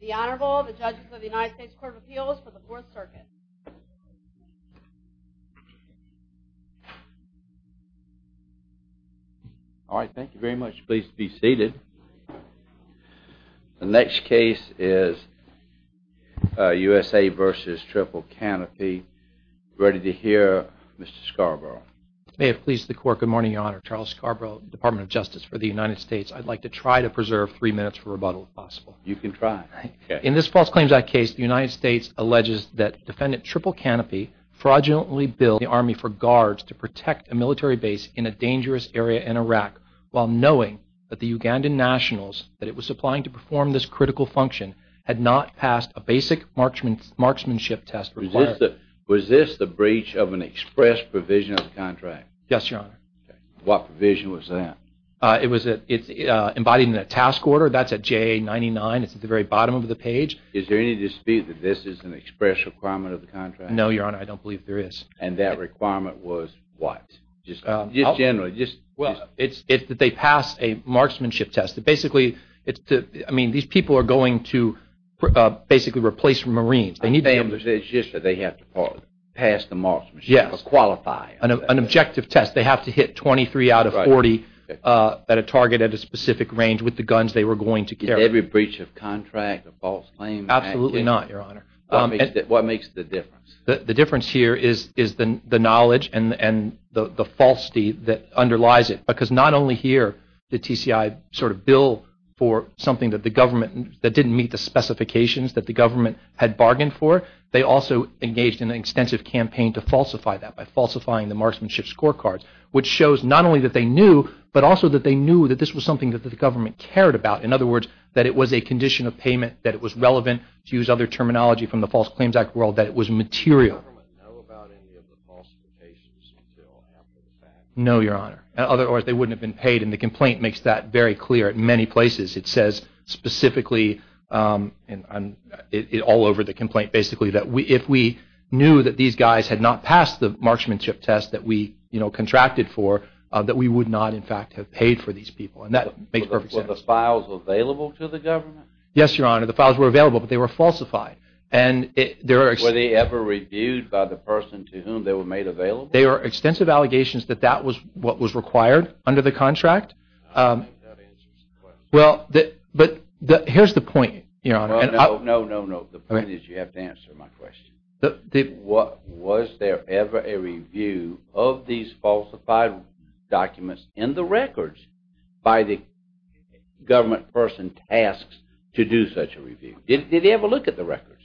The Honorable, the Judges of the United States Court of Appeals for the Fourth Circuit. All right, thank you very much. Pleased to be seated. The next case is USA v. Triple Canopy. Ready to hear, Mr. Scarborough. May it please the court, good morning, Your Honor. Charles Scarborough, Department of Justice for the United States. I'd like to try to preserve three minutes for rebuttal, if possible. You can try. In this false claims act case, the United States alleges that defendant, Triple Canopy, fraudulently billed the Army for guards to protect a military base in a dangerous area in Iraq, while knowing that the Ugandan nationals that it was supplying to perform this critical function had not passed a basic marksmanship test required. Was this the breach of an express provision of the contract? Yes, Your Honor. What provision was that? It's embodied in the task order. That's at JA-99. It's at the very bottom of the page. Is there any dispute that this is an express requirement of the contract? No, Your Honor, I don't believe there is. And that requirement was what? Just generally? It's that they passed a marksmanship test. Basically, these people are going to basically replace Marines. It's just that they have to pass the marksmanship, or qualify. An objective test. They have to hit 23 out of 40 at a target at a specific range with the guns they were going to carry. Is every breach of contract a false claim? Absolutely not, Your Honor. What makes the difference? The difference here is the knowledge and the falsity that underlies it. Because not only here, the TCI sort of billed for something that the government, that didn't meet the specifications that the government had bargained for, they also engaged in an extensive campaign to falsify that by falsifying the marksmanship scorecards, which shows not only that they knew, but also that they knew that this was something that the government cared about. In other words, that it was a condition of payment, that it was relevant, to use other terminology from the False Claims Act world, that it was material. Did the government know about any of the falsifications until after the fact? No, Your Honor. In other words, they wouldn't have been paid. And the complaint makes that very clear at many places. It says specifically, all over the complaint, basically, that if we knew that these guys had not passed the marksmanship test that we contracted for, that we would not, in fact, have paid for these people. And that makes perfect sense. Were the files available to the government? Yes, Your Honor. The files were available, but they were falsified. Were they ever reviewed by the person to whom they were made available? There are extensive allegations that that was what was required under the contract. I don't think that answers the question. Well, but here's the point, Your Honor. No, no, no, no. The point is you have to answer my question. Was there ever a review of these falsified documents in the records by the government person tasked to do such a review? Did they ever look at the records?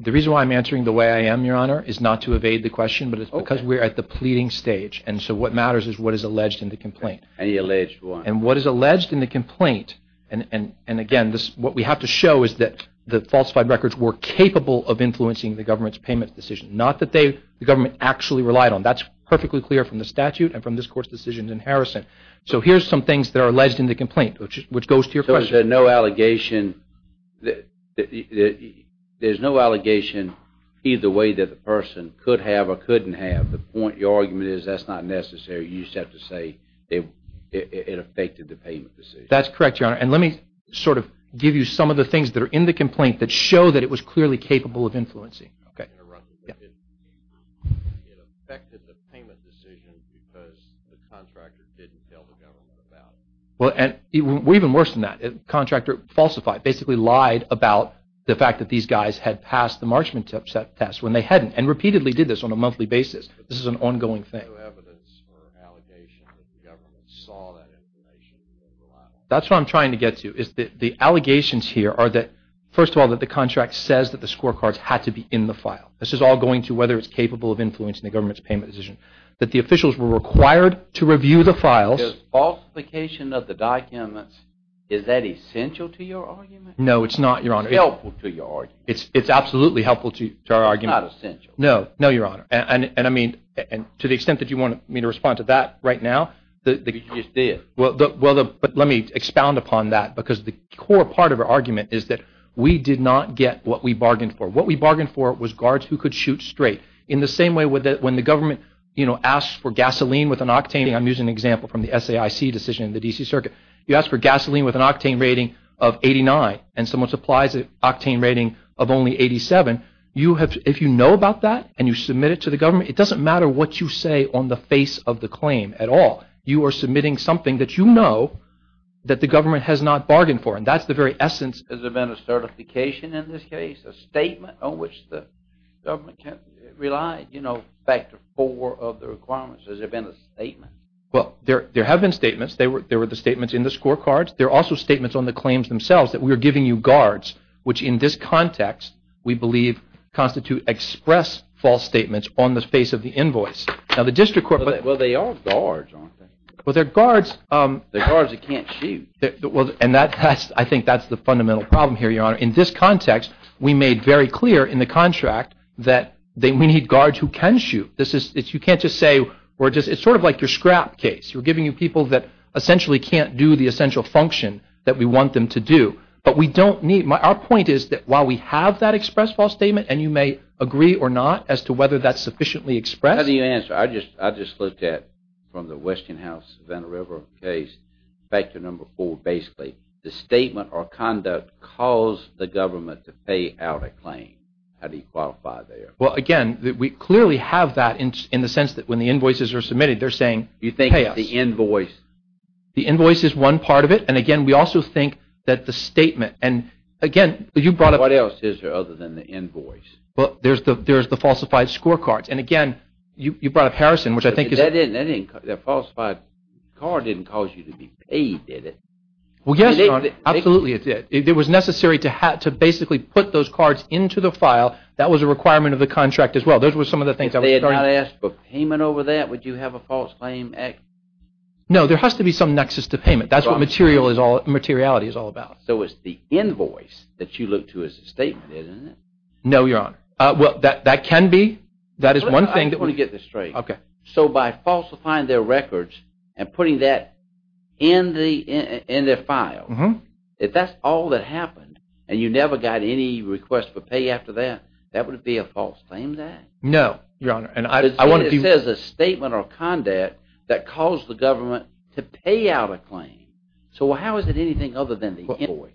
The reason why I'm answering the way I am, Your Honor, is not to evade the question, but it's because we're at the pleading stage. And so what matters is what is alleged in the complaint. Any alleged one. And what is alleged in the complaint, and, again, what we have to show is that the falsified records were capable of influencing the government's payment decision, not that the government actually relied on. That's perfectly clear from the statute and from this Court's decisions in Harrison. So here's some things that are alleged in the complaint, which goes to your question. There's no allegation either way that the person could have or couldn't have. The point of your argument is that's not necessary. You just have to say it affected the payment decision. That's correct, Your Honor. And let me sort of give you some of the things that are in the complaint that show that it was clearly capable of influencing. Okay. It affected the payment decision because the contractor didn't tell the government about it. Well, even worse than that, the contractor falsified, basically lied about the fact that these guys had passed the Marchman test when they hadn't and repeatedly did this on a monthly basis. This is an ongoing thing. There's no evidence or allegation that the government saw that information and didn't rely on it. That's what I'm trying to get to is that the allegations here are that, first of all, that the contract says that the scorecards had to be in the file. This is all going to whether it's capable of influencing the government's payment decision, that the officials were required to review the files. The falsification of the documents, is that essential to your argument? No, it's not, Your Honor. It's helpful to your argument. It's absolutely helpful to our argument. It's not essential. No, no, Your Honor. And, I mean, to the extent that you want me to respond to that right now. You just did. Well, let me expound upon that because the core part of our argument is that we did not get what we bargained for. What we bargained for was guards who could shoot straight. In the same way when the government, you know, asks for gasoline with an octane, I'm using an example from the SAIC decision in the D.C. Circuit. You ask for gasoline with an octane rating of 89 and someone supplies an octane rating of only 87, if you know about that and you submit it to the government, it doesn't matter what you say on the face of the claim at all. You are submitting something that you know that the government has not bargained for, and that's the very essence. Has there been a certification in this case? A statement on which the government can't rely? You know, factor four of the requirements. Has there been a statement? Well, there have been statements. There were the statements in the scorecards. There are also statements on the claims themselves that we are giving you guards, which in this context we believe constitute express false statements on the face of the invoice. Now, the district court- Well, they are guards, aren't they? Well, they're guards. They're guards that can't shoot. And I think that's the fundamental problem here, Your Honor. In this context, we made very clear in the contract that we need guards who can shoot. You can't just say we're just-it's sort of like your scrap case. We're giving you people that essentially can't do the essential function that we want them to do. But we don't need-our point is that while we have that express false statement, and you may agree or not as to whether that's sufficiently expressed- How do you answer? I just looked at, from the Westinghouse-Savannah River case, factor number four basically. The statement or conduct caused the government to pay out a claim. How do you qualify there? Well, again, we clearly have that in the sense that when the invoices are submitted, they're saying pay us. Do you think the invoice- The invoice is one part of it. And, again, we also think that the statement-and, again, you brought up- What else is there other than the invoice? Well, there's the falsified scorecards. And, again, you brought up Harrison, which I think is- That falsified card didn't cause you to be paid, did it? Well, yes, Your Honor. Absolutely, it did. It was necessary to basically put those cards into the file. That was a requirement of the contract as well. Those were some of the things- If they had not asked for payment over that, would you have a false claim? No, there has to be some nexus to payment. That's what materiality is all about. So it's the invoice that you look to as a statement, isn't it? No, Your Honor. Well, that can be. That is one thing- I just want to get this straight. Okay. So by falsifying their records and putting that in their file, if that's all that happened and you never got any request for pay after that, that would it be a false claim then? No, Your Honor. It says a statement or a conduct that caused the government to pay out a claim. So how is it anything other than the invoice?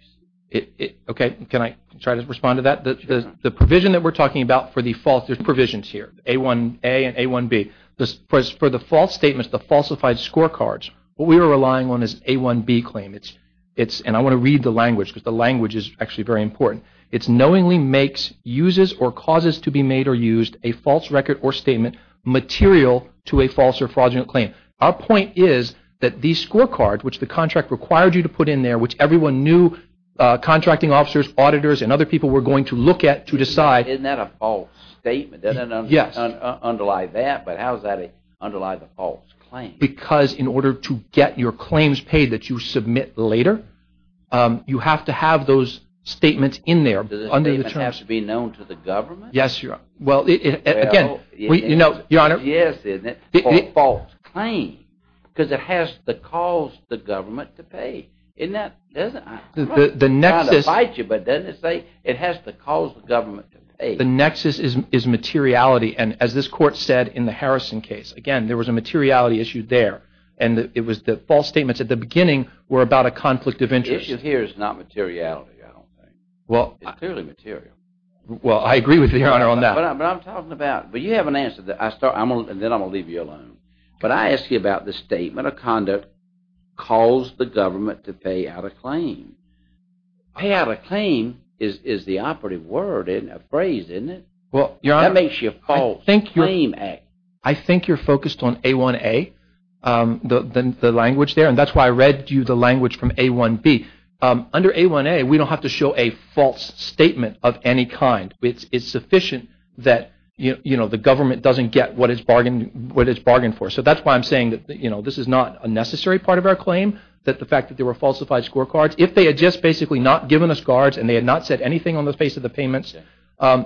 Okay. Can I try to respond to that? Sure, Your Honor. The provision that we're talking about for the false- there's provisions here, A1A and A1B. For the false statements, the falsified scorecards, what we are relying on is A1B claim. And I want to read the language because the language is actually very important. It's knowingly makes uses or causes to be made or used a false record or statement material to a false or fraudulent claim. Our point is that these scorecards, which the contract required you to put in there, which everyone knew contracting officers, auditors, and other people were going to look at to decide- Isn't that a false statement? Yes. Doesn't underlie that, but how does that underlie the false claim? Because in order to get your claims paid that you submit later, you have to have those statements in there. Do the statements have to be known to the government? Yes, Your Honor. Well- Again, Your Honor- Yes, and it's a false claim because it has to cause the government to pay. Isn't that- The nexus- I'm not trying to bite you, but doesn't it say it has to cause the government to pay? The nexus is materiality. And as this court said in the Harrison case, again, there was a materiality issue there. And it was the false statements at the beginning were about a conflict of interest. The issue here is not materiality, I don't think. Well- It's clearly material. Well, I agree with you, Your Honor, on that. But I'm talking about- But you have an answer that I start- And then I'm going to leave you alone. But I ask you about the statement of conduct caused the government to pay out a claim. Pay out a claim is the operative word, isn't it? A phrase, isn't it? Well, Your Honor- That makes you false. Claim A. I think you're focused on A1A, the language there. And that's why I read you the language from A1B. Under A1A, we don't have to show a false statement of any kind. It's sufficient that, you know, the government doesn't get what it's bargained for. So that's why I'm saying that, you know, this is not a necessary part of our claim, that the fact that there were falsified scorecards. If they had just basically not given us guards and they had not said anything on the face of the payments,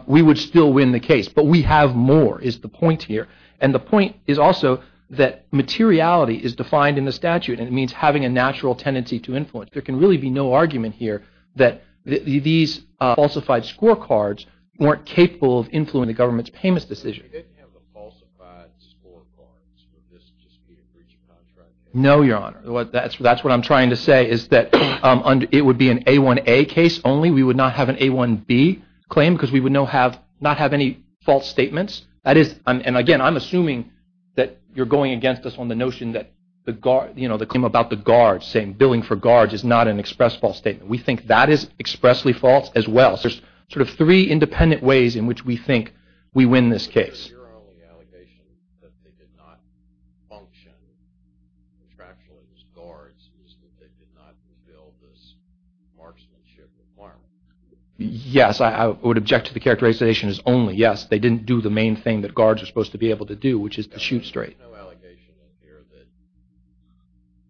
we would still win the case. But we have more is the point here. And the point is also that materiality is defined in the statute. And it means having a natural tendency to influence. There can really be no argument here that these falsified scorecards weren't capable of influencing the government's payments decision. If they didn't have the falsified scorecards, would this just be a breach of contract? No, Your Honor. That's what I'm trying to say is that it would be an A1A case only. We would not have an A1B claim because we would not have any false statements. And, again, I'm assuming that you're going against us on the notion that, you know, the claim about the guards saying billing for guards is not an express false statement. We think that is expressly false as well. So there's sort of three independent ways in which we think we win this case. Your only allegation that they did not function contractually as guards is that they did not fulfill this marksmanship requirement. Yes. I would object to the characterization as only, yes. They didn't do the main thing that guards are supposed to be able to do, which is to shoot straight. There's no allegation in here that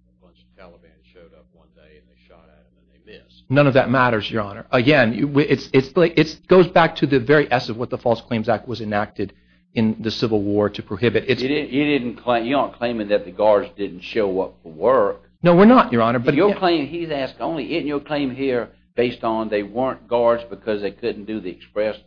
a bunch of Taliban showed up one day and they shot at them and they missed. None of that matters, Your Honor. Again, it goes back to the very essence of what the False Claims Act was enacted in the Civil War to prohibit. You aren't claiming that the guards didn't show up for work. No, we're not, Your Honor. But your claim – he's asked only – isn't your claim here based on they weren't guards because they couldn't do the express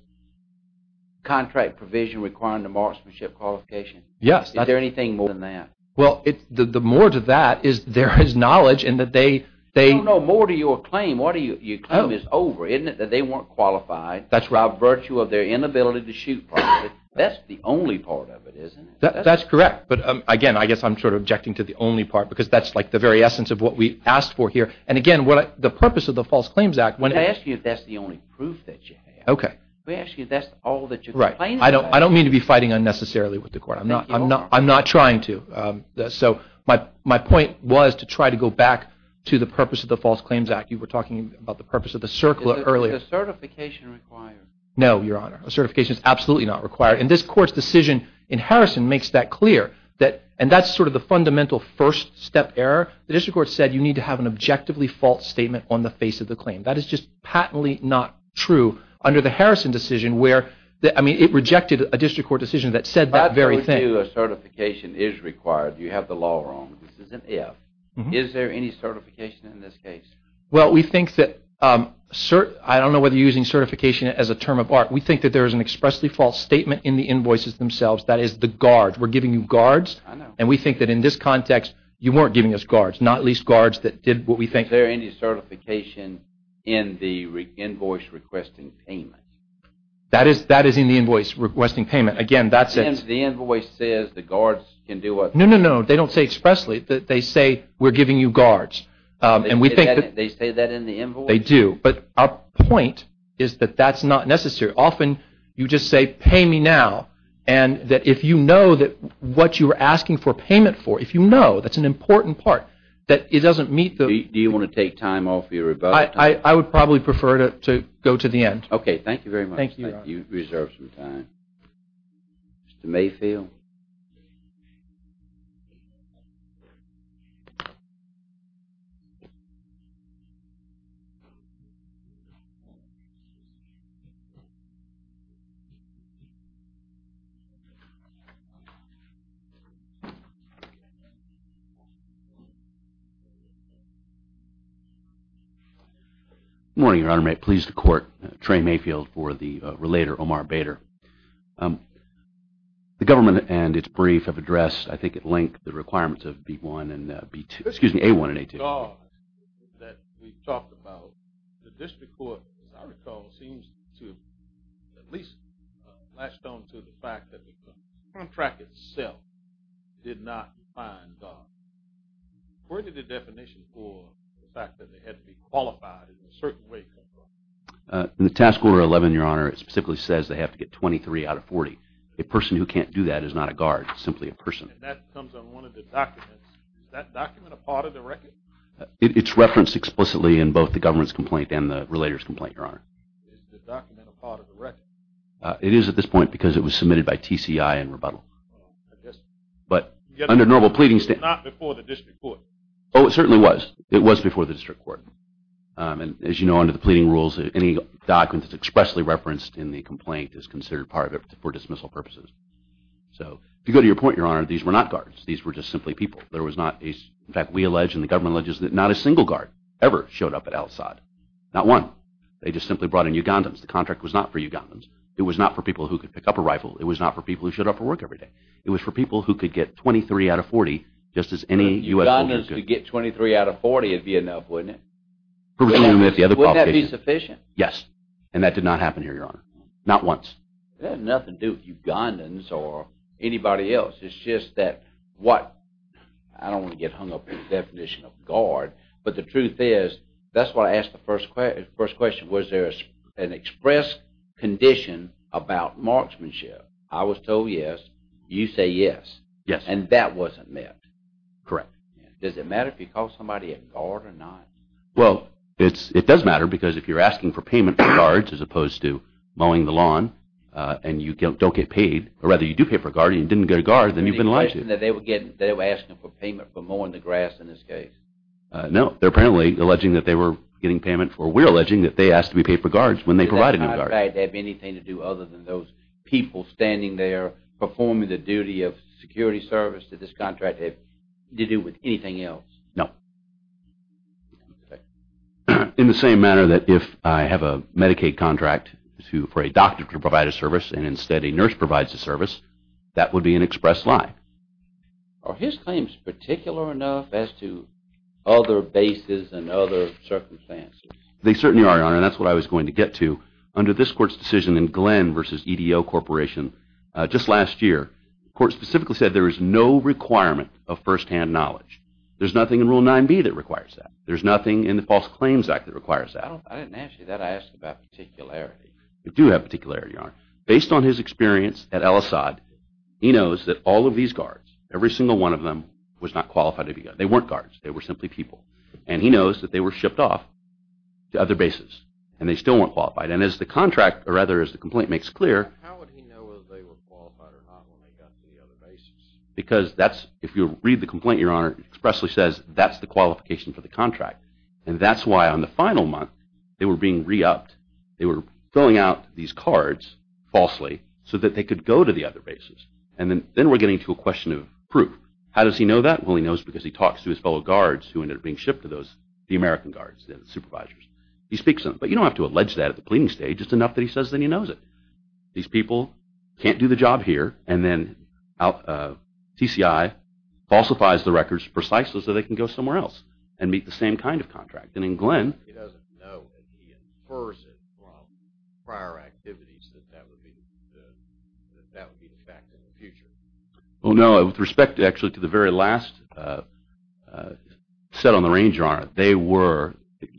contract provision requiring the marksmanship qualification? Yes. Is there anything more than that? Well, the more to that is there is knowledge and that they – I don't know more to your claim. Your claim is over, isn't it, that they weren't qualified by virtue of their inability to shoot properly. That's the only part of it, isn't it? That's correct. But again, I guess I'm sort of objecting to the only part because that's like the very essence of what we asked for here. And again, the purpose of the False Claims Act – We ask you if that's the only proof that you have. Okay. We ask you if that's all that you're complaining about. I don't mean to be fighting unnecessarily with the court. I'm not trying to. So my point was to try to go back to the purpose of the False Claims Act. You were talking about the purpose of the CERCLA earlier. Is a certification required? No, Your Honor. A certification is absolutely not required. And this court's decision in Harrison makes that clear. And that's sort of the fundamental first step error. The district court said you need to have an objectively false statement on the face of the claim. That is just patently not true under the Harrison decision where – I mean, it rejected a district court decision that said that very thing. If you do, a certification is required. You have the law wrong. This is an if. Is there any certification in this case? Well, we think that – I don't know whether you're using certification as a term of art. We think that there is an expressly false statement in the invoices themselves. That is the guards. We're giving you guards. I know. And we think that in this context, you weren't giving us guards, not least guards that did what we think – Is there any certification in the invoice requesting payment? That is in the invoice requesting payment. Again, that's a – The invoice says the guards can do what they want. No, no, no. They don't say expressly. They say we're giving you guards. And we think that – They say that in the invoice? They do. But our point is that that's not necessary. Often you just say pay me now. And that if you know that what you're asking for payment for, if you know, that's an important part, that it doesn't meet the – Do you want to take time off your rebuttal? I would probably prefer to go to the end. Okay. Thank you very much. Thank you. We reserve some time. Mr. Mayfield? Thank you. Good morning, Your Honor. I'm pleased to court Trey Mayfield for the relator Omar Bader. The government and its brief have addressed, I think, at length the requirements of B-1 and B-2 – Excuse me, A-1 and A-2. The guards that we've talked about, the district court, as I recall, seems to have at least latched on to the fact that the contract itself did not define guards. Where did the definition for the fact that they had to be qualified in a certain way come from? In the task order 11, Your Honor, it specifically says they have to get 23 out of 40. A person who can't do that is not a guard. It's simply a person. And that comes on one of the documents. Is that document a part of the record? It's referenced explicitly in both the government's complaint and the relator's complaint, Your Honor. Is the document a part of the record? It is at this point because it was submitted by TCI in rebuttal. But under normal pleading – It's not before the district court. Oh, it certainly was. It was before the district court. And as you know, under the pleading rules, any document that's expressly referenced in the complaint is considered part of it for dismissal purposes. So to go to your point, Your Honor, these were not guards. These were just simply people. There was not a – in fact, we allege and the government alleges that not a single guard ever showed up at Al-Asad. Not one. They just simply brought in Ugandans. The contract was not for Ugandans. It was not for people who could pick up a rifle. It was not for people who showed up for work every day. It was for people who could get 23 out of 40 just as any U.S. soldier could. If you could get 23 out of 40, it would be enough, wouldn't it? Wouldn't that be sufficient? Yes. And that did not happen here, Your Honor. Not once. It had nothing to do with Ugandans or anybody else. It's just that what – I don't want to get hung up in the definition of guard. But the truth is – that's why I asked the first question. Was there an express condition about marksmanship? I was told yes. You say yes. Yes. And that wasn't met. Correct. Does it matter if you call somebody a guard or not? Well, it does matter because if you're asking for payment for guards as opposed to mowing the lawn and you don't get paid – or rather you do pay for a guard and you didn't get a guard, then you've been alleged. They were asking for payment for mowing the grass in this case. No. They're apparently alleging that they were getting payment for – we're alleging that they asked to be paid for guards when they provided them guards. Does that have anything to do other than those people standing there performing the duty of security service? Did this contract have to do with anything else? No. In the same manner that if I have a Medicaid contract for a doctor to provide a service and instead a nurse provides a service, that would be an express lie. Are his claims particular enough as to other bases and other circumstances? They certainly are, Your Honor, and that's what I was going to get to. Under this court's decision in Glenn v. EDO Corporation just last year, the court specifically said there is no requirement of firsthand knowledge. There's nothing in Rule 9b that requires that. There's nothing in the False Claims Act that requires that. I didn't ask you that. I asked about particularity. You do have particularity, Your Honor. Based on his experience at El Assad, he knows that all of these guards, every single one of them, was not qualified to be guards. They weren't guards. They were simply people. And he knows that they were shipped off to other bases and they still weren't qualified. And as the complaint makes clear... How would he know if they were qualified or not when they got to the other bases? Because if you read the complaint, Your Honor, it expressly says that's the qualification for the contract. And that's why on the final month they were being re-upped. They were filling out these cards falsely so that they could go to the other bases. And then we're getting to a question of proof. How does he know that? Well, he knows because he talks to his fellow guards who ended up being shipped to the American guards, the supervisors. He speaks to them. But you don't have to allege that at the pleading stage. It's enough that he says that he knows it. These people can't do the job here. And then TCI falsifies the records precisely so they can go somewhere else and meet the same kind of contract. And in Glenn... He doesn't know. He infers it from prior activities that that would be the fact in the future. Well, no. With respect, actually, to the very last set on the range, Your Honor, the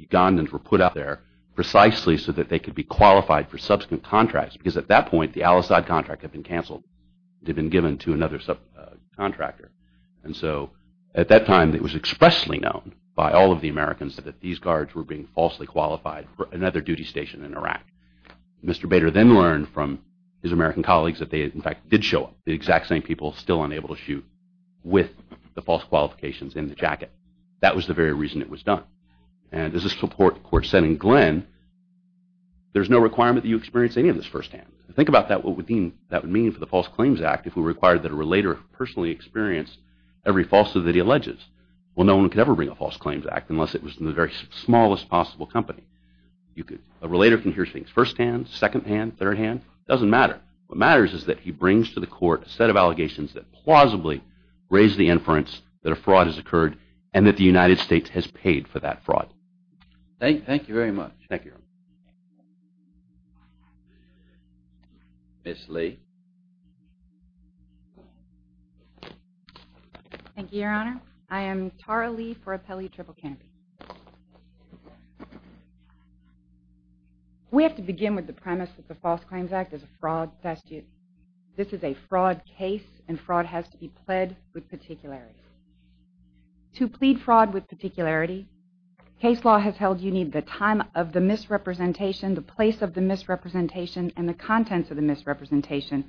Ugandans were put out there precisely so that they could be qualified for subsequent contracts because at that point the Al-Asad contract had been canceled. It had been given to another subcontractor. And so at that time it was expressly known by all of the Americans that these guards were being falsely qualified for another duty station in Iraq. Mr. Bader then learned from his American colleagues that they, in fact, did show up, the exact same people still unable to shoot with the false qualifications in the jacket. That was the very reason it was done. And as the court said in Glenn, there's no requirement that you experience any of this firsthand. Think about what that would mean for the False Claims Act if we required that a relator personally experience every falsehood that he alleges. Well, no one could ever bring a False Claims Act unless it was in the very smallest possible company. A relator can hear things firsthand, secondhand, thirdhand. It doesn't matter. What matters is that he brings to the court a set of allegations that plausibly raise the inference that a fraud has occurred and that the United States has paid for that fraud. Thank you very much. Thank you. Ms. Lee. Thank you, Your Honor. I am Tara Lee for Appellee Triple Canopy. We have to begin with the premise that the False Claims Act is a fraud test. This is a fraud case, and fraud has to be pled with particularity. To plead fraud with particularity, case law has held you need the time of the misrepresentation, the place of the misrepresentation, and the contents of the misrepresentation,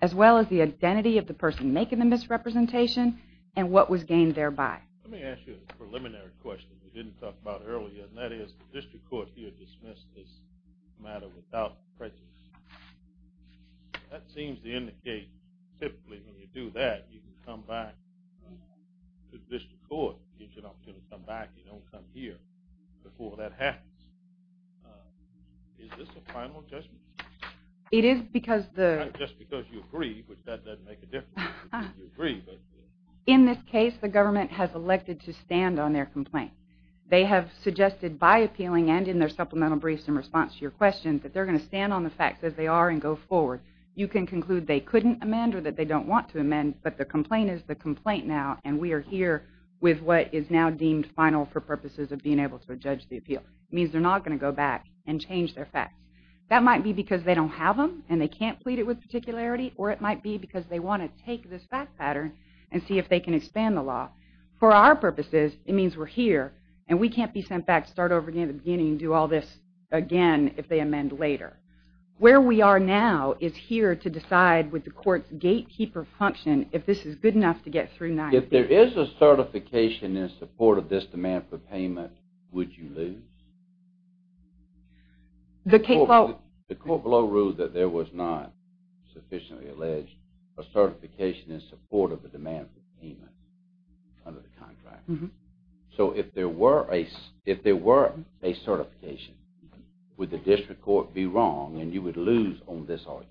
as well as the identity of the person making the misrepresentation and what was gained thereby. Let me ask you a preliminary question we didn't talk about earlier, and that is the district court here dismissed this matter without prejudice. That seems to indicate typically when you do that, you can come back to the district court. It gives you an opportunity to come back. You don't come here before that happens. Is this a final judgment? It is because the... Not just because you agree, which that doesn't make a difference. You agree, but... In this case, the government has elected to stand on their complaint. They have suggested by appealing and in their supplemental briefs in response to your questions that they're going to stand on the facts as they are and go forward. You can conclude they couldn't amend or that they don't want to amend, but the complaint is the complaint now, and we are here with what is now deemed final for purposes of being able to judge the appeal. It means they're not going to go back and change their facts. That might be because they don't have them, and they can't plead it with particularity, or it might be because they want to take this fact pattern and see if they can expand the law. For our purposes, it means we're here, and we can't be sent back to start over again at the beginning and do all this again if they amend later. Where we are now is here to decide with the court's gatekeeper function if this is good enough to get through 90 days. If there is a certification in support of this demand for payment, would you lose? The court below ruled that there was not, sufficiently alleged, a certification in support of the demand for payment under the contract. So if there were a certification, would the district court be wrong, and you would lose on this argument?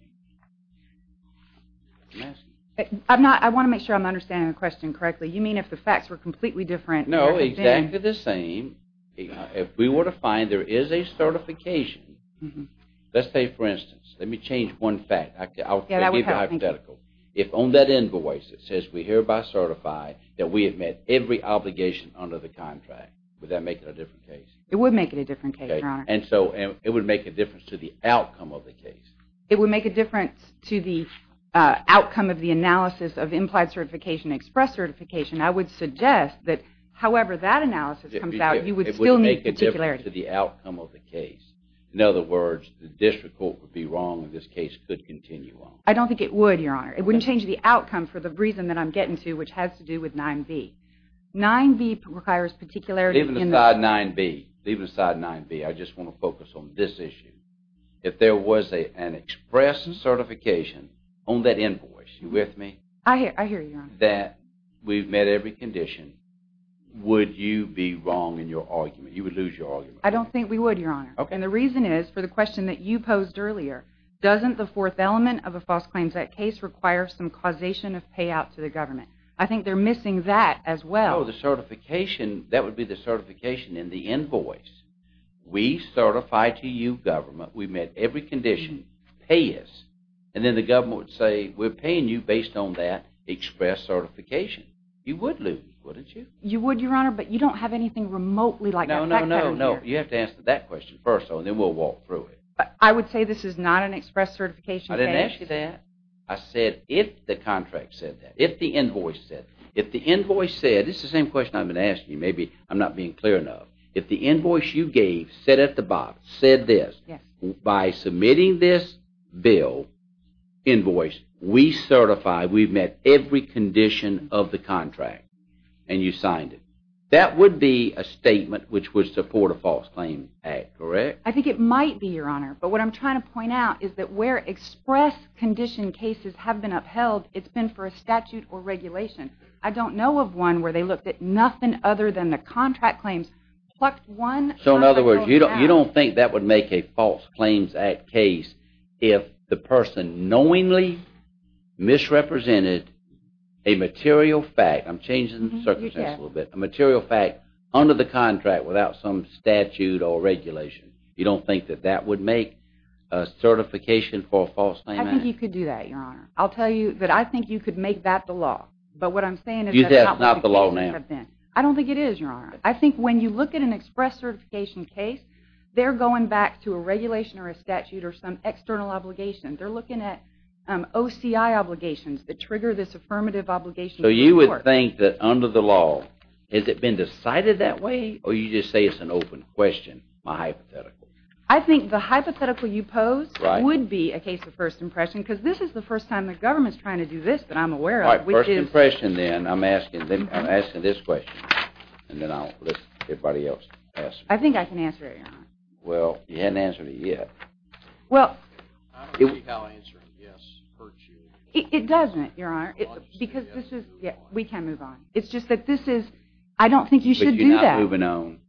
I want to make sure I'm understanding the question correctly. You mean if the facts were completely different? No, exactly the same. If we were to find there is a certification, let's say, for instance, let me change one fact. I'll give you a hypothetical. If on that invoice it says we hereby certify that we have met every obligation under the contract, would that make it a different case? It would make it a different case, Your Honor. And so it would make a difference to the outcome of the case. It would make a difference to the outcome of the analysis of implied certification and express certification. I would suggest that however that analysis comes out, you would still need particularity. It would make a difference to the outcome of the case. In other words, the district court would be wrong, and this case could continue on. I don't think it would, Your Honor. It wouldn't change the outcome for the reason that I'm getting to, which has to do with 9B. 9B requires particularity in the... Leave aside 9B. Leave aside 9B. I just want to focus on this issue. If there was an express certification on that invoice, you with me? I hear you, Your Honor. That we've met every condition, would you be wrong in your argument? You would lose your argument. I don't think we would, Your Honor. And the reason is for the question that you posed earlier. Doesn't the fourth element of a false claims act case require some causation of payout to the government? I think they're missing that as well. Oh, the certification. That would be the certification in the invoice. We certify to you, government, we've met every condition. Pay us. And then the government would say, we're paying you based on that express certification. You would lose, wouldn't you? You would, Your Honor, but you don't have anything remotely like that. No, no, no, no. You have to answer that question first, though, and then we'll walk through it. I would say this is not an express certification case. I didn't ask you that. I said if the contract said that. If the invoice said that. If the invoice said, this is the same question I've been asking you, maybe I'm not being clear enough. If the invoice you gave said at the bottom, said this, by submitting this bill, invoice, we certify we've met every condition of the contract, and you signed it. That would be a statement which would support a false claims act, correct? I think it might be, Your Honor. But what I'm trying to point out is that where express condition cases have been upheld, it's been for a statute or regulation. I don't know of one where they looked at nothing other than the contract claims. So, in other words, you don't think that would make a false claims act case if the person knowingly misrepresented a material fact. I'm changing the circumstance a little bit. A material fact under the contract without some statute or regulation. You don't think that that would make a certification for a false claims act? I think you could do that, Your Honor. I'll tell you that I think you could make that the law. But what I'm saying is that not the law now. I don't think it is, Your Honor. I think when you look at an express certification case, they're going back to a regulation or a statute or some external obligation. They're looking at OCI obligations that trigger this affirmative obligation. So you would think that under the law, has it been decided that way, or you just say it's an open question, my hypothetical? I think the hypothetical you pose would be a case of first impression because this is the first time the government is trying to do this that I'm aware of. All right, first impression then. I'm asking this question, and then I'll let everybody else ask. I think I can answer it, Your Honor. Well, you haven't answered it yet. Well, I don't see how answering yes hurts you. It doesn't, Your Honor. Because this is, we can move on. It's just that this is, I don't think you should do that. All right, moving on.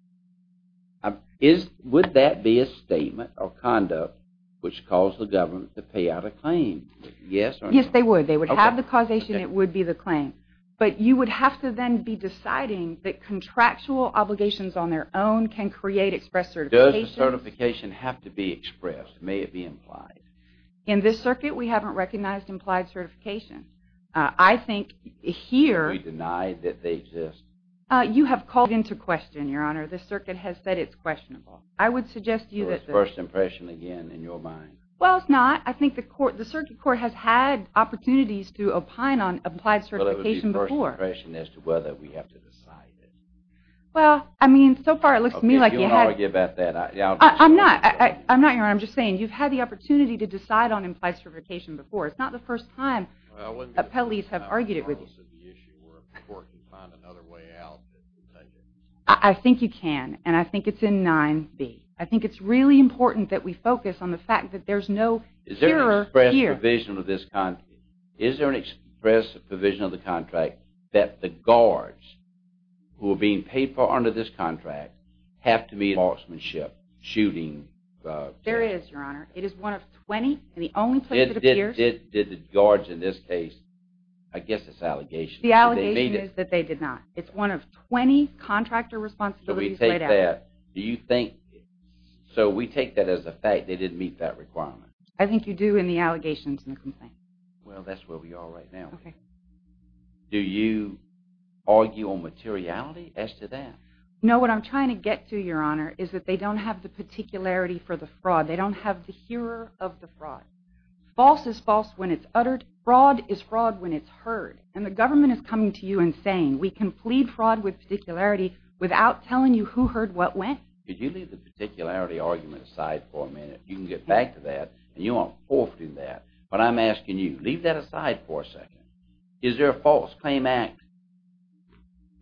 Would that be a statement or conduct which caused the government to pay out a claim? Yes or no? Yes, they would. They would have the causation. It would be the claim. But you would have to then be deciding that contractual obligations on their own can create express certifications. Does the certification have to be expressed? May it be implied? In this circuit, we haven't recognized implied certification. I think here. Are we denied that they exist? You have called into question, Your Honor. The circuit has said it's questionable. I would suggest to you that the – So it's first impression again in your mind? Well, it's not. I think the circuit court has had opportunities to opine on implied certification before. But it would be first impression as to whether we have to decide it. Well, I mean, so far it looks to me like you have – Okay, if you're going to argue about that, I'll just – I'm not, Your Honor. I'm just saying you've had the opportunity to decide on implied certification before. It's not the first time appellees have argued it with you. Or before it can find another way out. I think you can. And I think it's in 9B. I think it's really important that we focus on the fact that there's no cure here. Is there an express provision of this contract? Is there an express provision of the contract that the guards who are being paid for under this contract have to be in marksmanship, shooting? There is, Your Honor. It is one of 20, and the only place it appears – Did the guards in this case – I guess it's allegations. The allegation is that they did not. It's one of 20 contractor responsibilities laid out. Do you think – so we take that as a fact they didn't meet that requirement. I think you do in the allegations and the complaints. Well, that's where we are right now. Okay. Do you argue on materiality as to that? No, what I'm trying to get to, Your Honor, is that they don't have the particularity for the fraud. They don't have the hearer of the fraud. False is false when it's uttered. Fraud is fraud when it's heard. And the government is coming to you and saying, we can plead fraud with particularity without telling you who heard what when. Could you leave the particularity argument aside for a minute? You can get back to that, and you aren't forfeiting that. But I'm asking you, leave that aside for a second. Is there a false claim act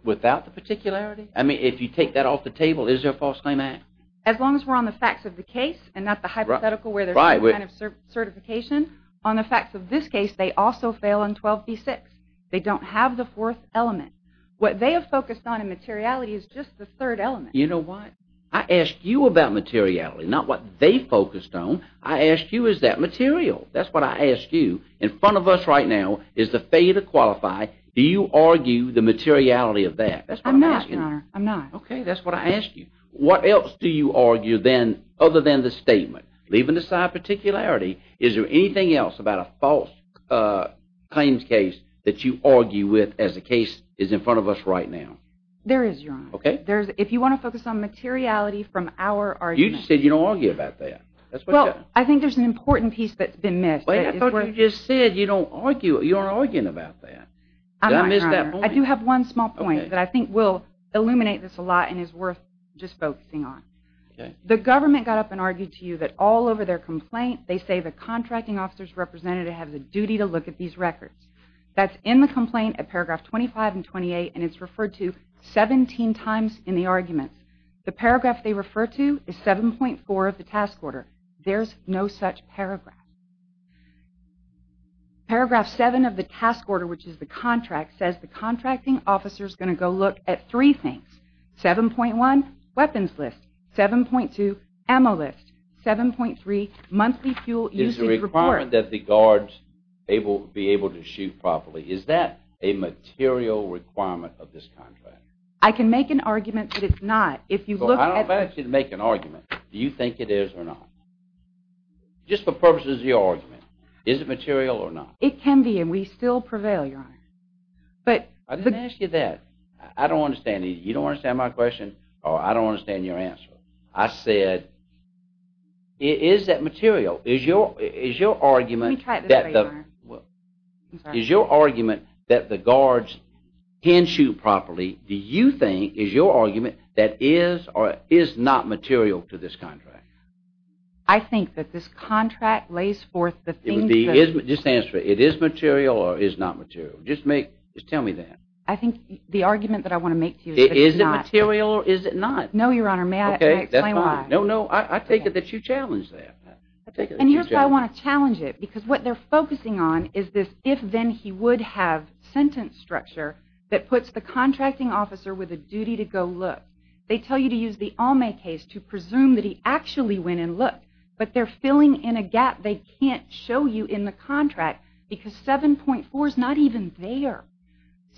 without the particularity? I mean, if you take that off the table, is there a false claim act? As long as we're on the facts of the case and not the hypothetical where there's some kind of certification. On the facts of this case, they also fail in 12b-6. They don't have the fourth element. What they have focused on in materiality is just the third element. You know what? I asked you about materiality, not what they focused on. I asked you, is that material? That's what I asked you. In front of us right now is the failure to qualify. Do you argue the materiality of that? I'm not, Your Honor. I'm not. Okay, that's what I asked you. What else do you argue then other than the statement? Leaving aside particularity, is there anything else about a false claims case that you argue with as the case is in front of us right now? There is, Your Honor. Okay. If you want to focus on materiality from our argument. You just said you don't argue about that. Well, I think there's an important piece that's been missed. I thought you just said you don't argue. You aren't arguing about that. I do have one small point that I think will illuminate this a lot and is worth just focusing on. The government got up and argued to you that all over their complaint, they say the contracting officer's representative has a duty to look at these records. That's in the complaint at paragraph 25 and 28, and it's referred to 17 times in the argument. The paragraph they refer to is 7.4 of the task order. There's no such paragraph. Paragraph 7 of the task order, which is the contract, says the contracting officer's going to go look at three things. 7.1, weapons list. 7.2, ammo list. 7.3, monthly fuel usage report. Is the requirement that the guards be able to shoot properly, is that a material requirement of this contract? I can make an argument that it's not. I don't ask you to make an argument. Do you think it is or not? Just for purposes of your argument. Is it material or not? It can be, and we still prevail, Your Honor. I didn't ask you that. I don't understand either. You don't understand my question, or I don't understand your answer. I said, is that material? Is your argument that the guards can shoot properly, do you think, is your argument that is or is not material to this contract? I think that this contract lays forth the things that... Just answer it. It is material or is not material? Just tell me that. I think the argument that I want to make to you is that it's not. Is it material or is it not? No, Your Honor. May I explain why? Okay, that's fine. No, no, I take it that you challenge that. And here's why I want to challenge it, because what they're focusing on is this if-then-he-would-have sentence structure that puts the contracting officer with a duty to go look. They tell you to use the Almay case to presume that he actually went and looked, but they're filling in a gap they can't show you in the contract because 7.4 is not even there.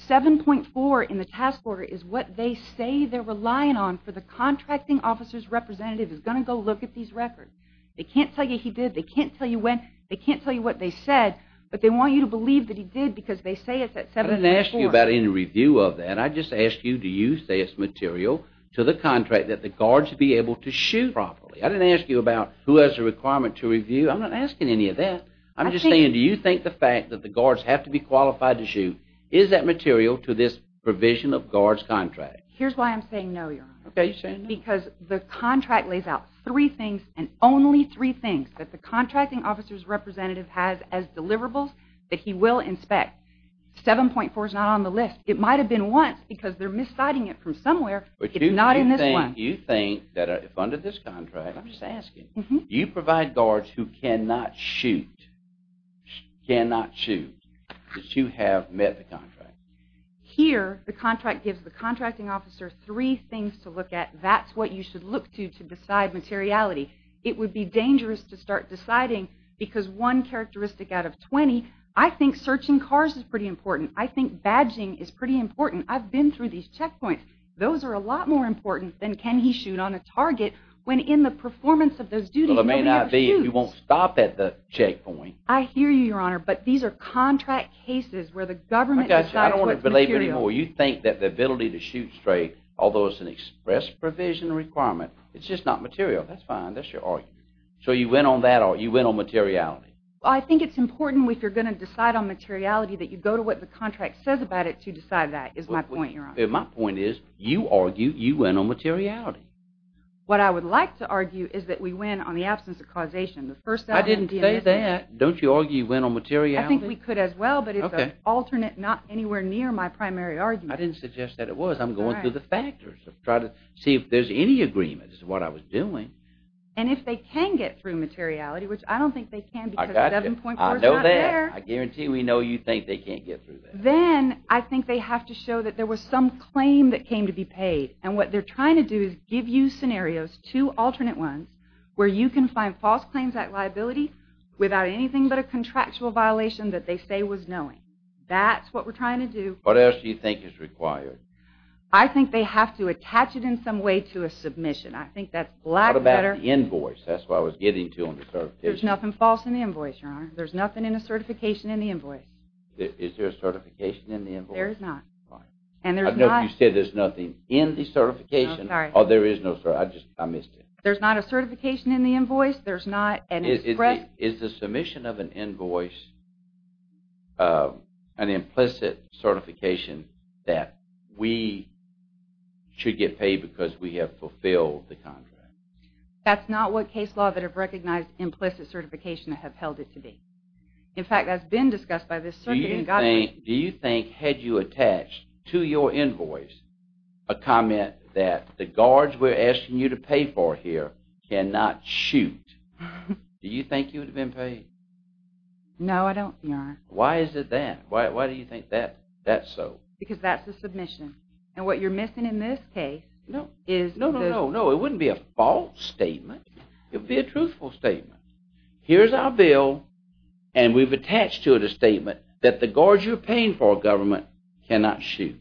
7.4 in the task order is what they say they're relying on for the contracting officer's representative who's going to go look at these records. They can't tell you he did, they can't tell you when, they can't tell you what they said, but they want you to believe that he did because they say it's at 7.4. I didn't ask you about any review of that. I just asked you do you say it's material to the contract that the guards be able to shoot properly. I didn't ask you about who has a requirement to review. I'm not asking any of that. I'm just saying do you think the fact that the guards have to be qualified to shoot, is that material to this provision of guards' contract? Here's why I'm saying no, Your Honor, because the contract lays out three things and only three things that the contracting officer's representative has as deliverables that he will inspect. 7.4 is not on the list. It might have been once because they're misciting it from somewhere, but it's not in this one. Why do you think that under this contract, I'm just asking, you provide guards who cannot shoot, cannot shoot, that you have met the contract? Here, the contract gives the contracting officer three things to look at. That's what you should look to to decide materiality. It would be dangerous to start deciding because one characteristic out of 20, I think searching cars is pretty important. I think badging is pretty important. I've been through these checkpoints. Those are a lot more important than can he shoot on a target when in the performance of those duties. Well, it may not be if you won't stop at the checkpoint. I hear you, Your Honor, but these are contract cases where the government decides what's material. I don't want to belabor anymore. You think that the ability to shoot straight, although it's an express provision requirement, it's just not material. That's fine. That's your argument. So you went on that argument. You went on materiality. Well, I think it's important if you're going to decide on materiality that you go to what the contract says about it to decide that, is my point, Your Honor. My point is you argue you went on materiality. What I would like to argue is that we went on the absence of causation. I didn't say that. Don't you argue you went on materiality? I think we could as well, but it's an alternate, not anywhere near my primary argument. I didn't suggest that it was. I'm going through the factors to try to see if there's any agreement. This is what I was doing. And if they can get through materiality, which I don't think they can because the 7.4 is not there. I know that. I guarantee we know you think they can't get through that. Then I think they have to show that there was some claim that came to be paid. And what they're trying to do is give you scenarios, two alternate ones, where you can find false claims at liability without anything but a contractual violation that they say was knowing. That's what we're trying to do. What else do you think is required? I think they have to attach it in some way to a submission. What about the invoice? That's what I was getting to on the certification. There's nothing false in the invoice, Your Honor. There's nothing in the certification in the invoice. Is there a certification in the invoice? There is not. I don't know if you said there's nothing in the certification or there is no certification. I missed it. There's not a certification in the invoice. There's not an express. Is the submission of an invoice an implicit certification that we should get paid because we have fulfilled the contract? That's not what case law that have recognized implicit certification have held it to be. In fact, that's been discussed by this circuit in God's name. Do you think had you attached to your invoice a comment that the guards we're asking you to pay for here cannot shoot, do you think you would have been paid? No, I don't, Your Honor. Why is it that? Why do you think that's so? Because that's a submission. And what you're missing in this case is... No, no, no, no. It wouldn't be a false statement. It would be a truthful statement. Here's our bill and we've attached to it a statement that the guards you're paying for our government cannot shoot.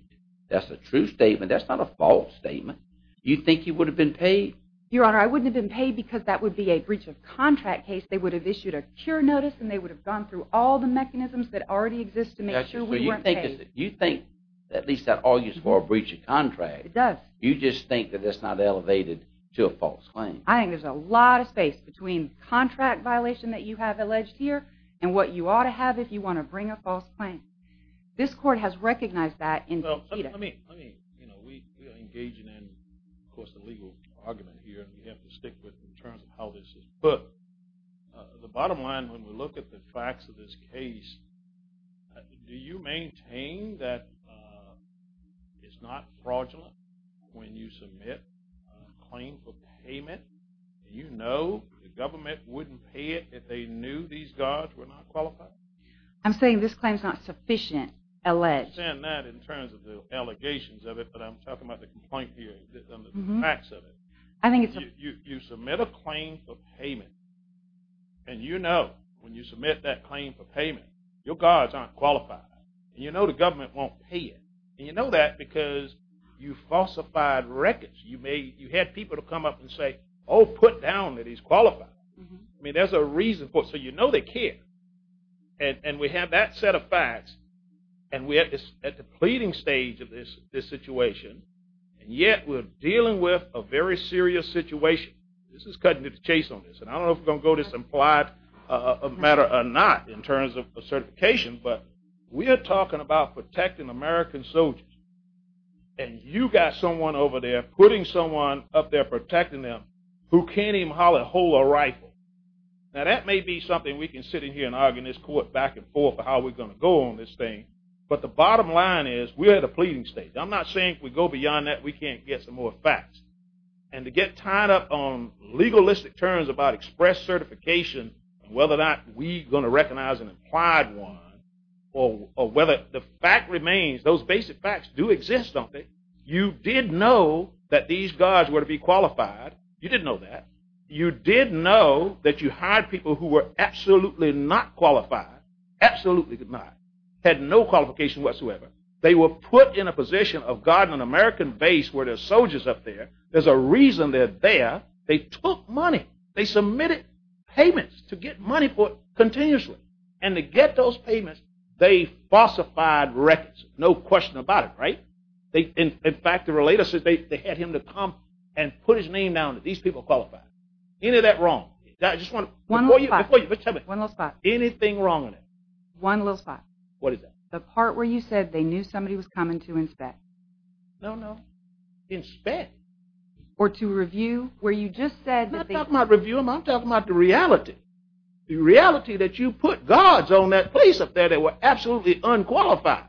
That's a true statement. That's not a false statement. You think you would have been paid? Your Honor, I wouldn't have been paid because that would be a breach of contract case. They would have issued a cure notice and they would have gone through all the mechanisms that already exist to make sure we weren't paid. You think that at least that argues for a breach of contract. It does. You just think that that's not elevated to a false claim. I think there's a lot of space between contract violation that you have alleged here and what you ought to have if you want to bring a false claim. This court has recognized that indeed. We are engaging in, of course, a legal argument here. We have to stick with it in terms of how this is put. The bottom line, when we look at the facts of this case, do you maintain that it's not fraudulent when you submit a claim for payment? Do you know the government wouldn't pay it if they knew these guards were not qualified? I'm saying this claim is not sufficient, alleged. I understand that in terms of the allegations of it, but I'm talking about the complaint here, the facts of it. You submit a claim for payment and you know when you submit that claim for payment your guards aren't qualified. You know the government won't pay it. You know that because you falsified records. You had people come up and say, oh, put down that he's qualified. There's a reason for it. So you know they care. And we have that set of facts, and we're at the pleading stage of this situation, and yet we're dealing with a very serious situation. This is cutting to the chase on this, and I don't know if we're going to go this implied matter or not in terms of certification, but we are talking about protecting American soldiers, and you got someone over there putting someone up there protecting them who can't even hold a rifle. Now, that may be something we can sit in here and argue in this court back and forth about how we're going to go on this thing, but the bottom line is we're at a pleading stage. I'm not saying if we go beyond that we can't get some more facts. And to get tied up on legalistic terms about express certification and whether or not we're going to recognize an implied one or whether the fact remains, those basic facts do exist, don't they? You did know that these guards were to be qualified. You didn't know that. You did know that you hired people who were absolutely not qualified, absolutely not, had no qualification whatsoever. They were put in a position of guarding an American base where there are soldiers up there. There's a reason they're there. They took money. They submitted payments to get money for it continuously, and to get those payments, they falsified records. No question about it, right? In fact, to relate us, they had him to come and put his name down that these people are qualified. Any of that wrong? One little spot. Anything wrong with that? One little spot. What is that? The part where you said they knew somebody was coming to inspect. No, no. Inspect? Or to review where you just said that they – I'm not talking about review. I'm talking about the reality, the reality that you put guards on that place up there that were absolutely unqualified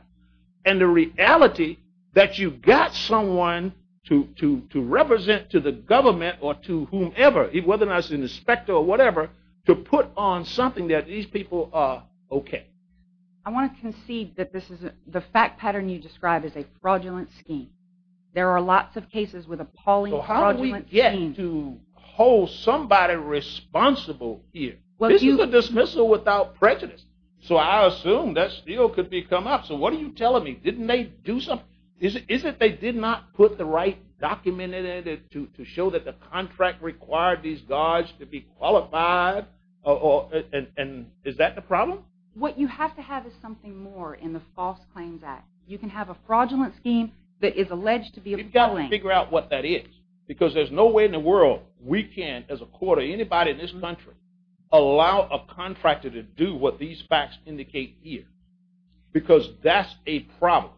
and the reality that you got someone to represent to the government or to whomever, whether or not it's an inspector or whatever, to put on something that these people are okay. I want to concede that the fact pattern you describe is a fraudulent scheme. There are lots of cases with appalling fraudulent schemes. So how do we get to hold somebody responsible here? This is a dismissal without prejudice. So I assume that still could be come up. So what are you telling me? Didn't they do something? Is it they did not put the right document in it to show that the contract required these guards to be qualified? And is that the problem? What you have to have is something more in the False Claims Act. You can have a fraudulent scheme that is alleged to be appalling. You've got to figure out what that is because there's no way in the world we can, as a court or anybody in this country, allow a contractor to do what these facts indicate here because that's a problem.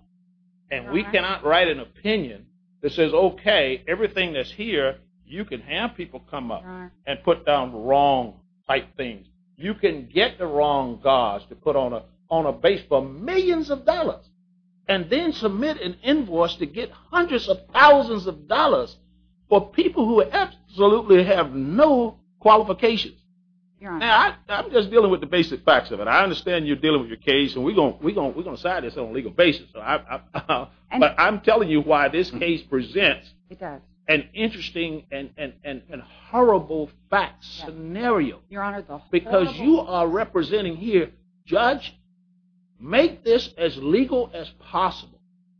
And we cannot write an opinion that says, okay, everything that's here you can have people come up and put down wrong-type things. You can get the wrong guards to put on a base for millions of dollars and then submit an invoice to get hundreds of thousands of dollars for people who absolutely have no qualifications. Now, I'm just dealing with the basic facts of it. I understand you're dealing with your case, and we're going to decide this on a legal basis. But I'm telling you why this case presents an interesting and horrible fact scenario. Because you are representing here, judge, make this as legal as possible.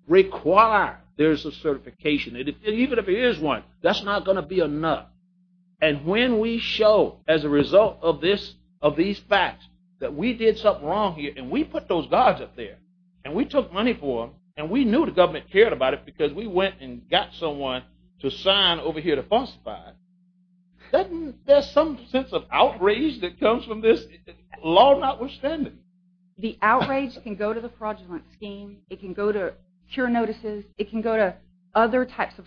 Require there's a certification. Even if there is one, that's not going to be enough. And when we show, as a result of these facts, that we did something wrong here and we put those guards up there and we took money for them and we knew the government cared about it because we went and got someone to sign over here to falsify it, couldn't there be some sense of outrage that comes from this, law notwithstanding? The outrage can go to the fraudulent scheme. It can go to cure notices. It can go to other types of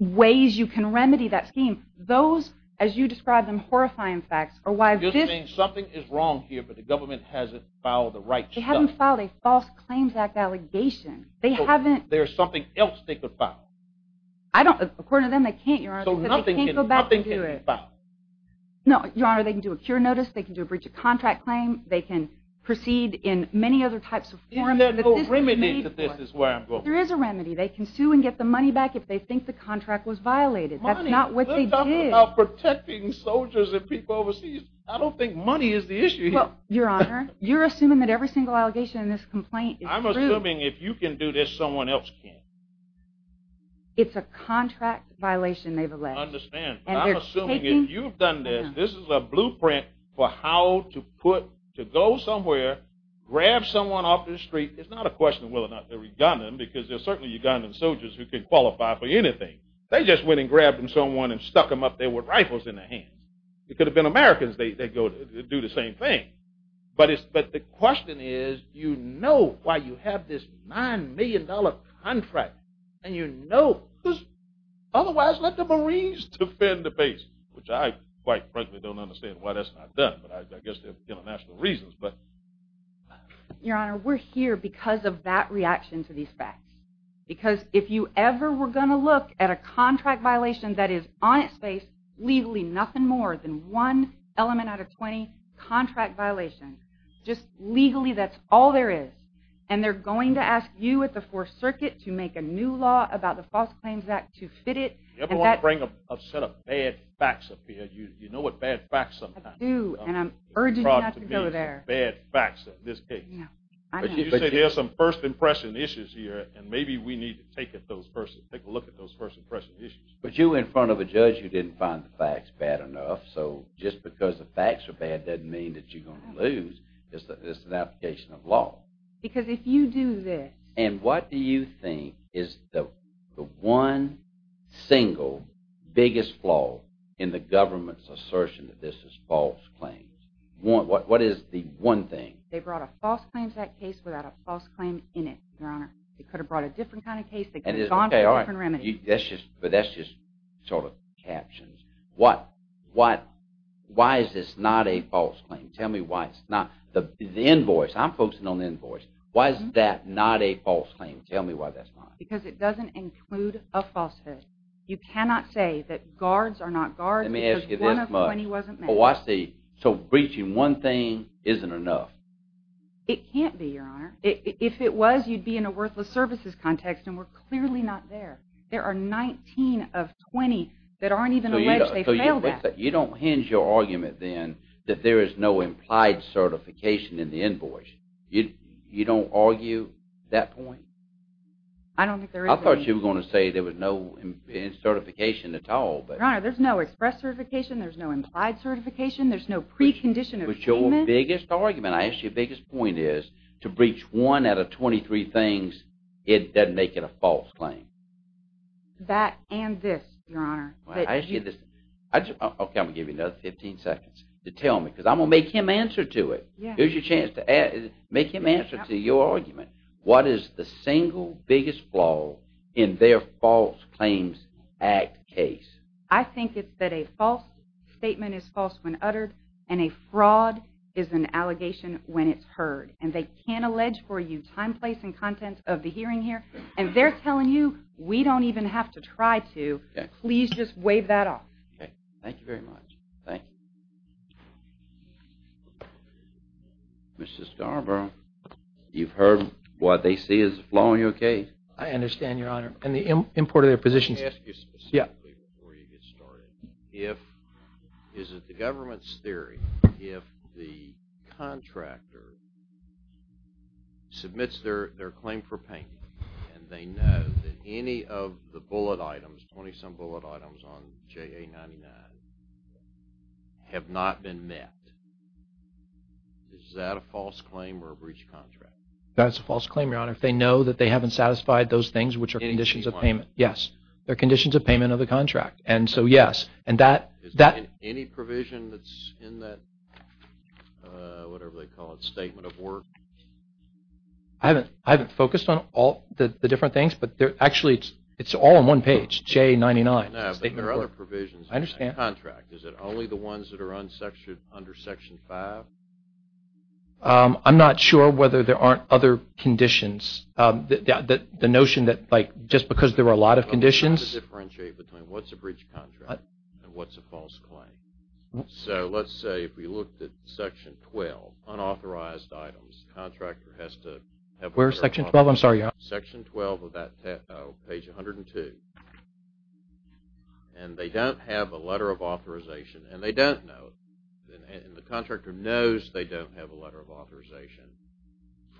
ways you can remedy that scheme. Those, as you describe them, horrifying facts are why this… You're just saying something is wrong here, but the government hasn't filed the right stuff. They haven't filed a False Claims Act allegation. There's something else they could file. According to them, they can't, Your Honor, because they can't go back and do it. So nothing can be filed? No, Your Honor. They can do a cure notice. They can do a breach of contract claim. They can proceed in many other types of forms. There's no remedy to this is where I'm going. There is a remedy. They can sue and get the money back if they think the contract was violated. That's not what they did. Money? We're talking about protecting soldiers and people overseas. I don't think money is the issue here. Well, Your Honor, you're assuming that every single allegation in this complaint is true. I'm assuming if you can do this, someone else can't. It's a contract violation, nevertheless. I understand. I'm assuming if you've done this, this is a blueprint for how to go somewhere, grab someone off the street. It's not a question of whether or not they're Ugandan, because there are certainly Ugandan soldiers who could qualify for anything. They just went and grabbed someone and stuck them up there with rifles in their hands. It could have been Americans. They'd do the same thing. But the question is, you know why you have this $9 million contract, and you know who's otherwise let the Marines defend the base, which I quite frankly don't understand why that's not done, but I guess there are international reasons. Your Honor, we're here because of that reaction to these facts, because if you ever were going to look at a contract violation that is on its face, legally nothing more than one element out of 20 contract violations, just legally that's all there is, and they're going to ask you at the Fourth Circuit to make a new law about the False Claims Act to fit it. You ever want to bring a set of bad facts up here? You know what bad facts sometimes are. I do, and I'm urging you not to go there. Bad facts in this case. But you say there are some first impression issues here, and maybe we need to take a look at those first impression issues. But you were in front of a judge who didn't find the facts bad enough, so just because the facts are bad doesn't mean that you're going to lose. It's an application of law. Because if you do this. And what do you think is the one single biggest flaw in the government's assertion that this is false claims? What is the one thing? They brought a false claims act case without a false claim in it, Your Honor. They could have brought a different kind of case. They could have gone for a different remedy. But that's just sort of captions. Why is this not a false claim? Tell me why it's not. The invoice. I'm focusing on the invoice. Why is that not a false claim? Tell me why that's not. Because it doesn't include a falsehood. You cannot say that guards are not guards because one of 20 wasn't made. Oh, I see. So breaching one thing isn't enough. It can't be, Your Honor. If it was, you'd be in a worthless services context, and we're clearly not there. There are 19 of 20 that aren't even alleged. They failed that. You don't hinge your argument, then, that there is no implied certification in the invoice. You don't argue that point? I don't think there is any. I thought you were going to say there was no certification at all. Your Honor, there's no express certification. There's no implied certification. There's no precondition of payment. But your biggest argument, I ask you, your biggest point is to breach one out of 23 things, it doesn't make it a false claim. That and this, Your Honor. Okay, I'm going to give you another 15 seconds to tell me because I'm going to make him answer to it. Here's your chance to make him answer to your argument. What is the single biggest flaw in their False Claims Act case? I think it's that a false statement is false when uttered, and a fraud is an allegation when it's heard. And they can't allege for you time, place, and content of the hearing here. And they're telling you, we don't even have to try to. Please just waive that off. Okay, thank you very much. Thank you. Mrs. Garber, you've heard what they see as a flaw in your case. I understand, Your Honor. And the import of their positions. Let me ask you specifically before you get started. If, is it the government's theory, if the contractor submits their claim for payment and they know that any of the bullet items, 20-some bullet items on JA-99 have not been met, is that a false claim or a breach of contract? That's a false claim, Your Honor, if they know that they haven't satisfied those things, which are conditions of payment. Yes, they're conditions of payment of the contract. And so, yes. Is there any provision that's in that, whatever they call it, statement of work? I haven't focused on all the different things, but actually it's all on one page, JA-99. No, but there are other provisions in that contract. I understand. Is it only the ones that are under Section 5? I'm not sure whether there aren't other conditions. The notion that, like, just because there are a lot of conditions. I'm trying to differentiate between what's a breach of contract and what's a false claim. So, let's say if we looked at Section 12, unauthorized items, the contractor has to have a letter of authorization. Where's Section 12? I'm sorry, Your Honor. Section 12 of that page 102. And they don't have a letter of authorization, and they don't know, and the contractor knows they don't have a letter of authorization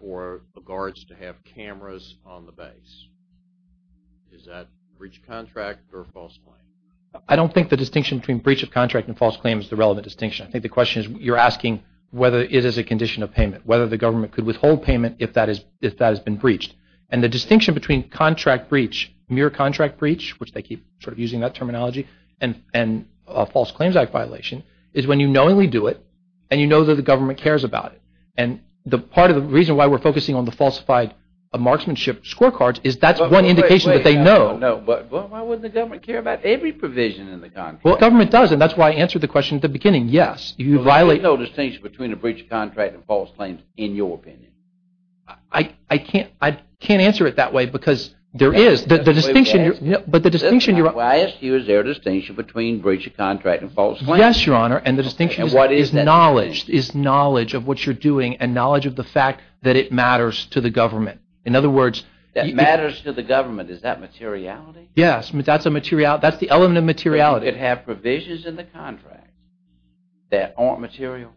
for the guards to have cameras on the base. Is that breach of contract or false claim? I don't think the distinction between breach of contract and false claim is the relevant distinction. I think the question is you're asking whether it is a condition of payment, whether the government could withhold payment if that has been breached. And the distinction between contract breach, mere contract breach, which they keep sort of using that terminology, and a False Claims Act violation is when you knowingly do it and you know that the government cares about it. And part of the reason why we're focusing on the falsified marksmanship scorecards is that's one indication that they know. But why wouldn't the government care about every provision in the contract? Well, government does, and that's why I answered the question at the beginning, yes. There's no distinction between a breach of contract and false claims in your opinion. I can't answer it that way because there is. But the distinction you're – I asked you is there a distinction between breach of contract and false claim. Yes, Your Honor, and the distinction is knowledge. And what is that distinction? It's knowledge of what you're doing and knowledge of the fact that it matters to the government. In other words – That matters to the government, is that materiality? Yes, that's the element of materiality. But you could have provisions in the contract that aren't material?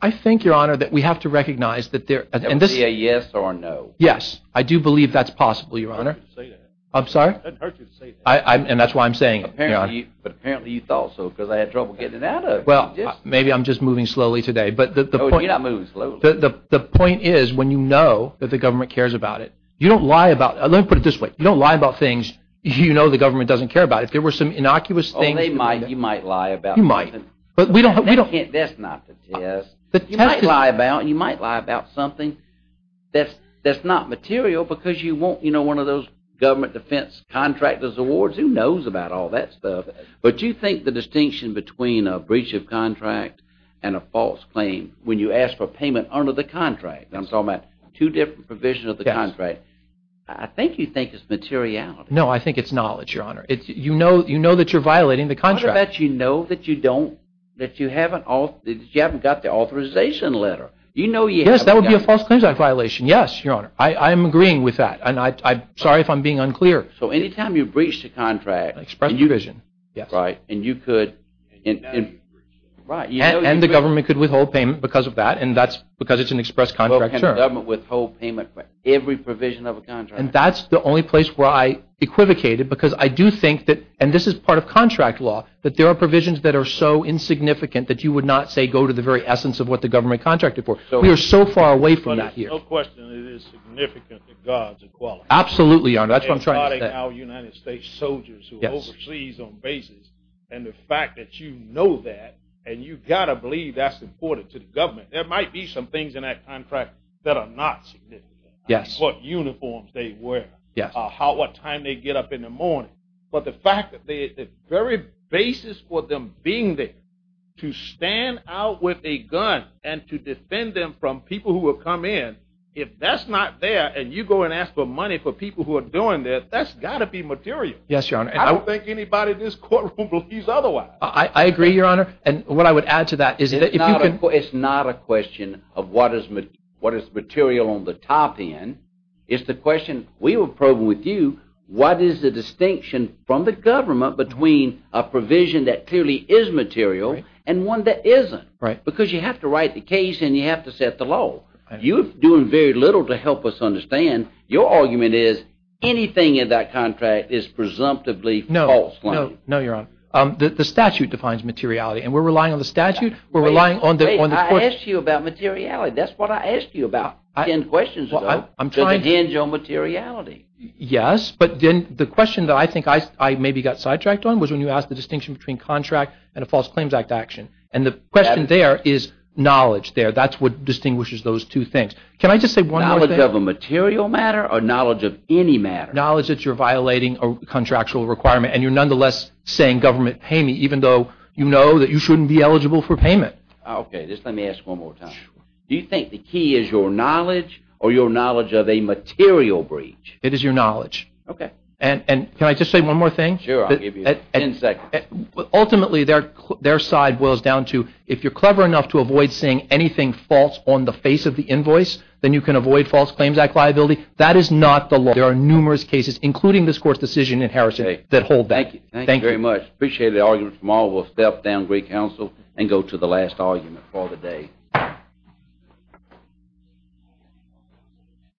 I think, Your Honor, that we have to recognize that there – That would be a yes or a no. Yes, I do believe that's possible, Your Honor. It doesn't hurt you to say that. I'm sorry? It doesn't hurt you to say that. And that's why I'm saying it, Your Honor. But apparently you thought so because I had trouble getting it out of you. Well, maybe I'm just moving slowly today. No, you're not moving slowly. The point is when you know that the government cares about it, you don't lie about – let me put it this way. You don't lie about things you know the government doesn't care about. If there were some innocuous things – Oh, they might. You might lie about something. You might. But we don't – That's not the test. The test is – You might lie about something that's not material because you want, you know, one of those government defense contractors awards. Who knows about all that stuff? But you think the distinction between a breach of contract and a false claim, when you ask for payment under the contract – I'm talking about two different provisions of the contract. I think you think it's materiality. No, I think it's knowledge, Your Honor. You know that you're violating the contract. What about you know that you don't – that you haven't got the authorization letter? You know you haven't got – Yes, that would be a false claims violation. Yes, Your Honor. I am agreeing with that. And I'm sorry if I'm being unclear. So anytime you breach the contract – Express provision, yes. Right. And you could – And the government could withhold payment because of that, and that's because it's an express contract. Government withhold payment for every provision of a contract. And that's the only place where I equivocated because I do think that – and this is part of contract law – that there are provisions that are so insignificant that you would not, say, go to the very essence of what the government contracted for. We are so far away from that here. There's no question that it is significant that God's equality – Absolutely, Your Honor. That's what I'm trying to say. Our United States soldiers who are overseas on bases, and the fact that you know that, and you've got to believe that's important to the government. There might be some things in that contract that are not significant. Yes. What uniforms they wear. Yes. What time they get up in the morning. But the fact that the very basis for them being there to stand out with a gun and to defend them from people who will come in, if that's not there and you go and ask for money for people who are doing that, that's got to be material. Yes, Your Honor. I don't think anybody in this courtroom believes otherwise. I agree, Your Honor. And what I would add to that is that if you can – It's not a question of what is material on the top end. It's the question we were probing with you, what is the distinction from the government between a provision that clearly is material and one that isn't? Right. Because you have to write the case and you have to set the law. You're doing very little to help us understand. Your argument is anything in that contract is presumptively false. No. No, Your Honor. The statute defines materiality, and we're relying on the statute. We're relying on the court. Wait. I asked you about materiality. That's what I asked you about ten questions ago. I'm trying to – Does it hinge on materiality? Yes, but then the question that I think I maybe got sidetracked on was when you asked the distinction between contract and a False Claims Act action. And the question there is knowledge there. That's what distinguishes those two things. Can I just say one more thing? Knowledge of a material matter or knowledge of any matter? Knowledge that you're violating a contractual requirement and you're nonetheless saying government pay me, even though you know that you shouldn't be eligible for payment. Okay. Just let me ask one more time. Do you think the key is your knowledge or your knowledge of a material breach? It is your knowledge. Okay. And can I just say one more thing? Sure. I'll give you ten seconds. Ultimately, their side boils down to, if you're clever enough to avoid saying anything false on the face of the invoice, then you can avoid False Claims Act liability. That is not the law. There are numerous cases, including this court's decision in Harrison, that hold that. Thank you. Thank you very much. I appreciate the argument. Tomorrow we'll step down great counsel and go to the last argument for the day.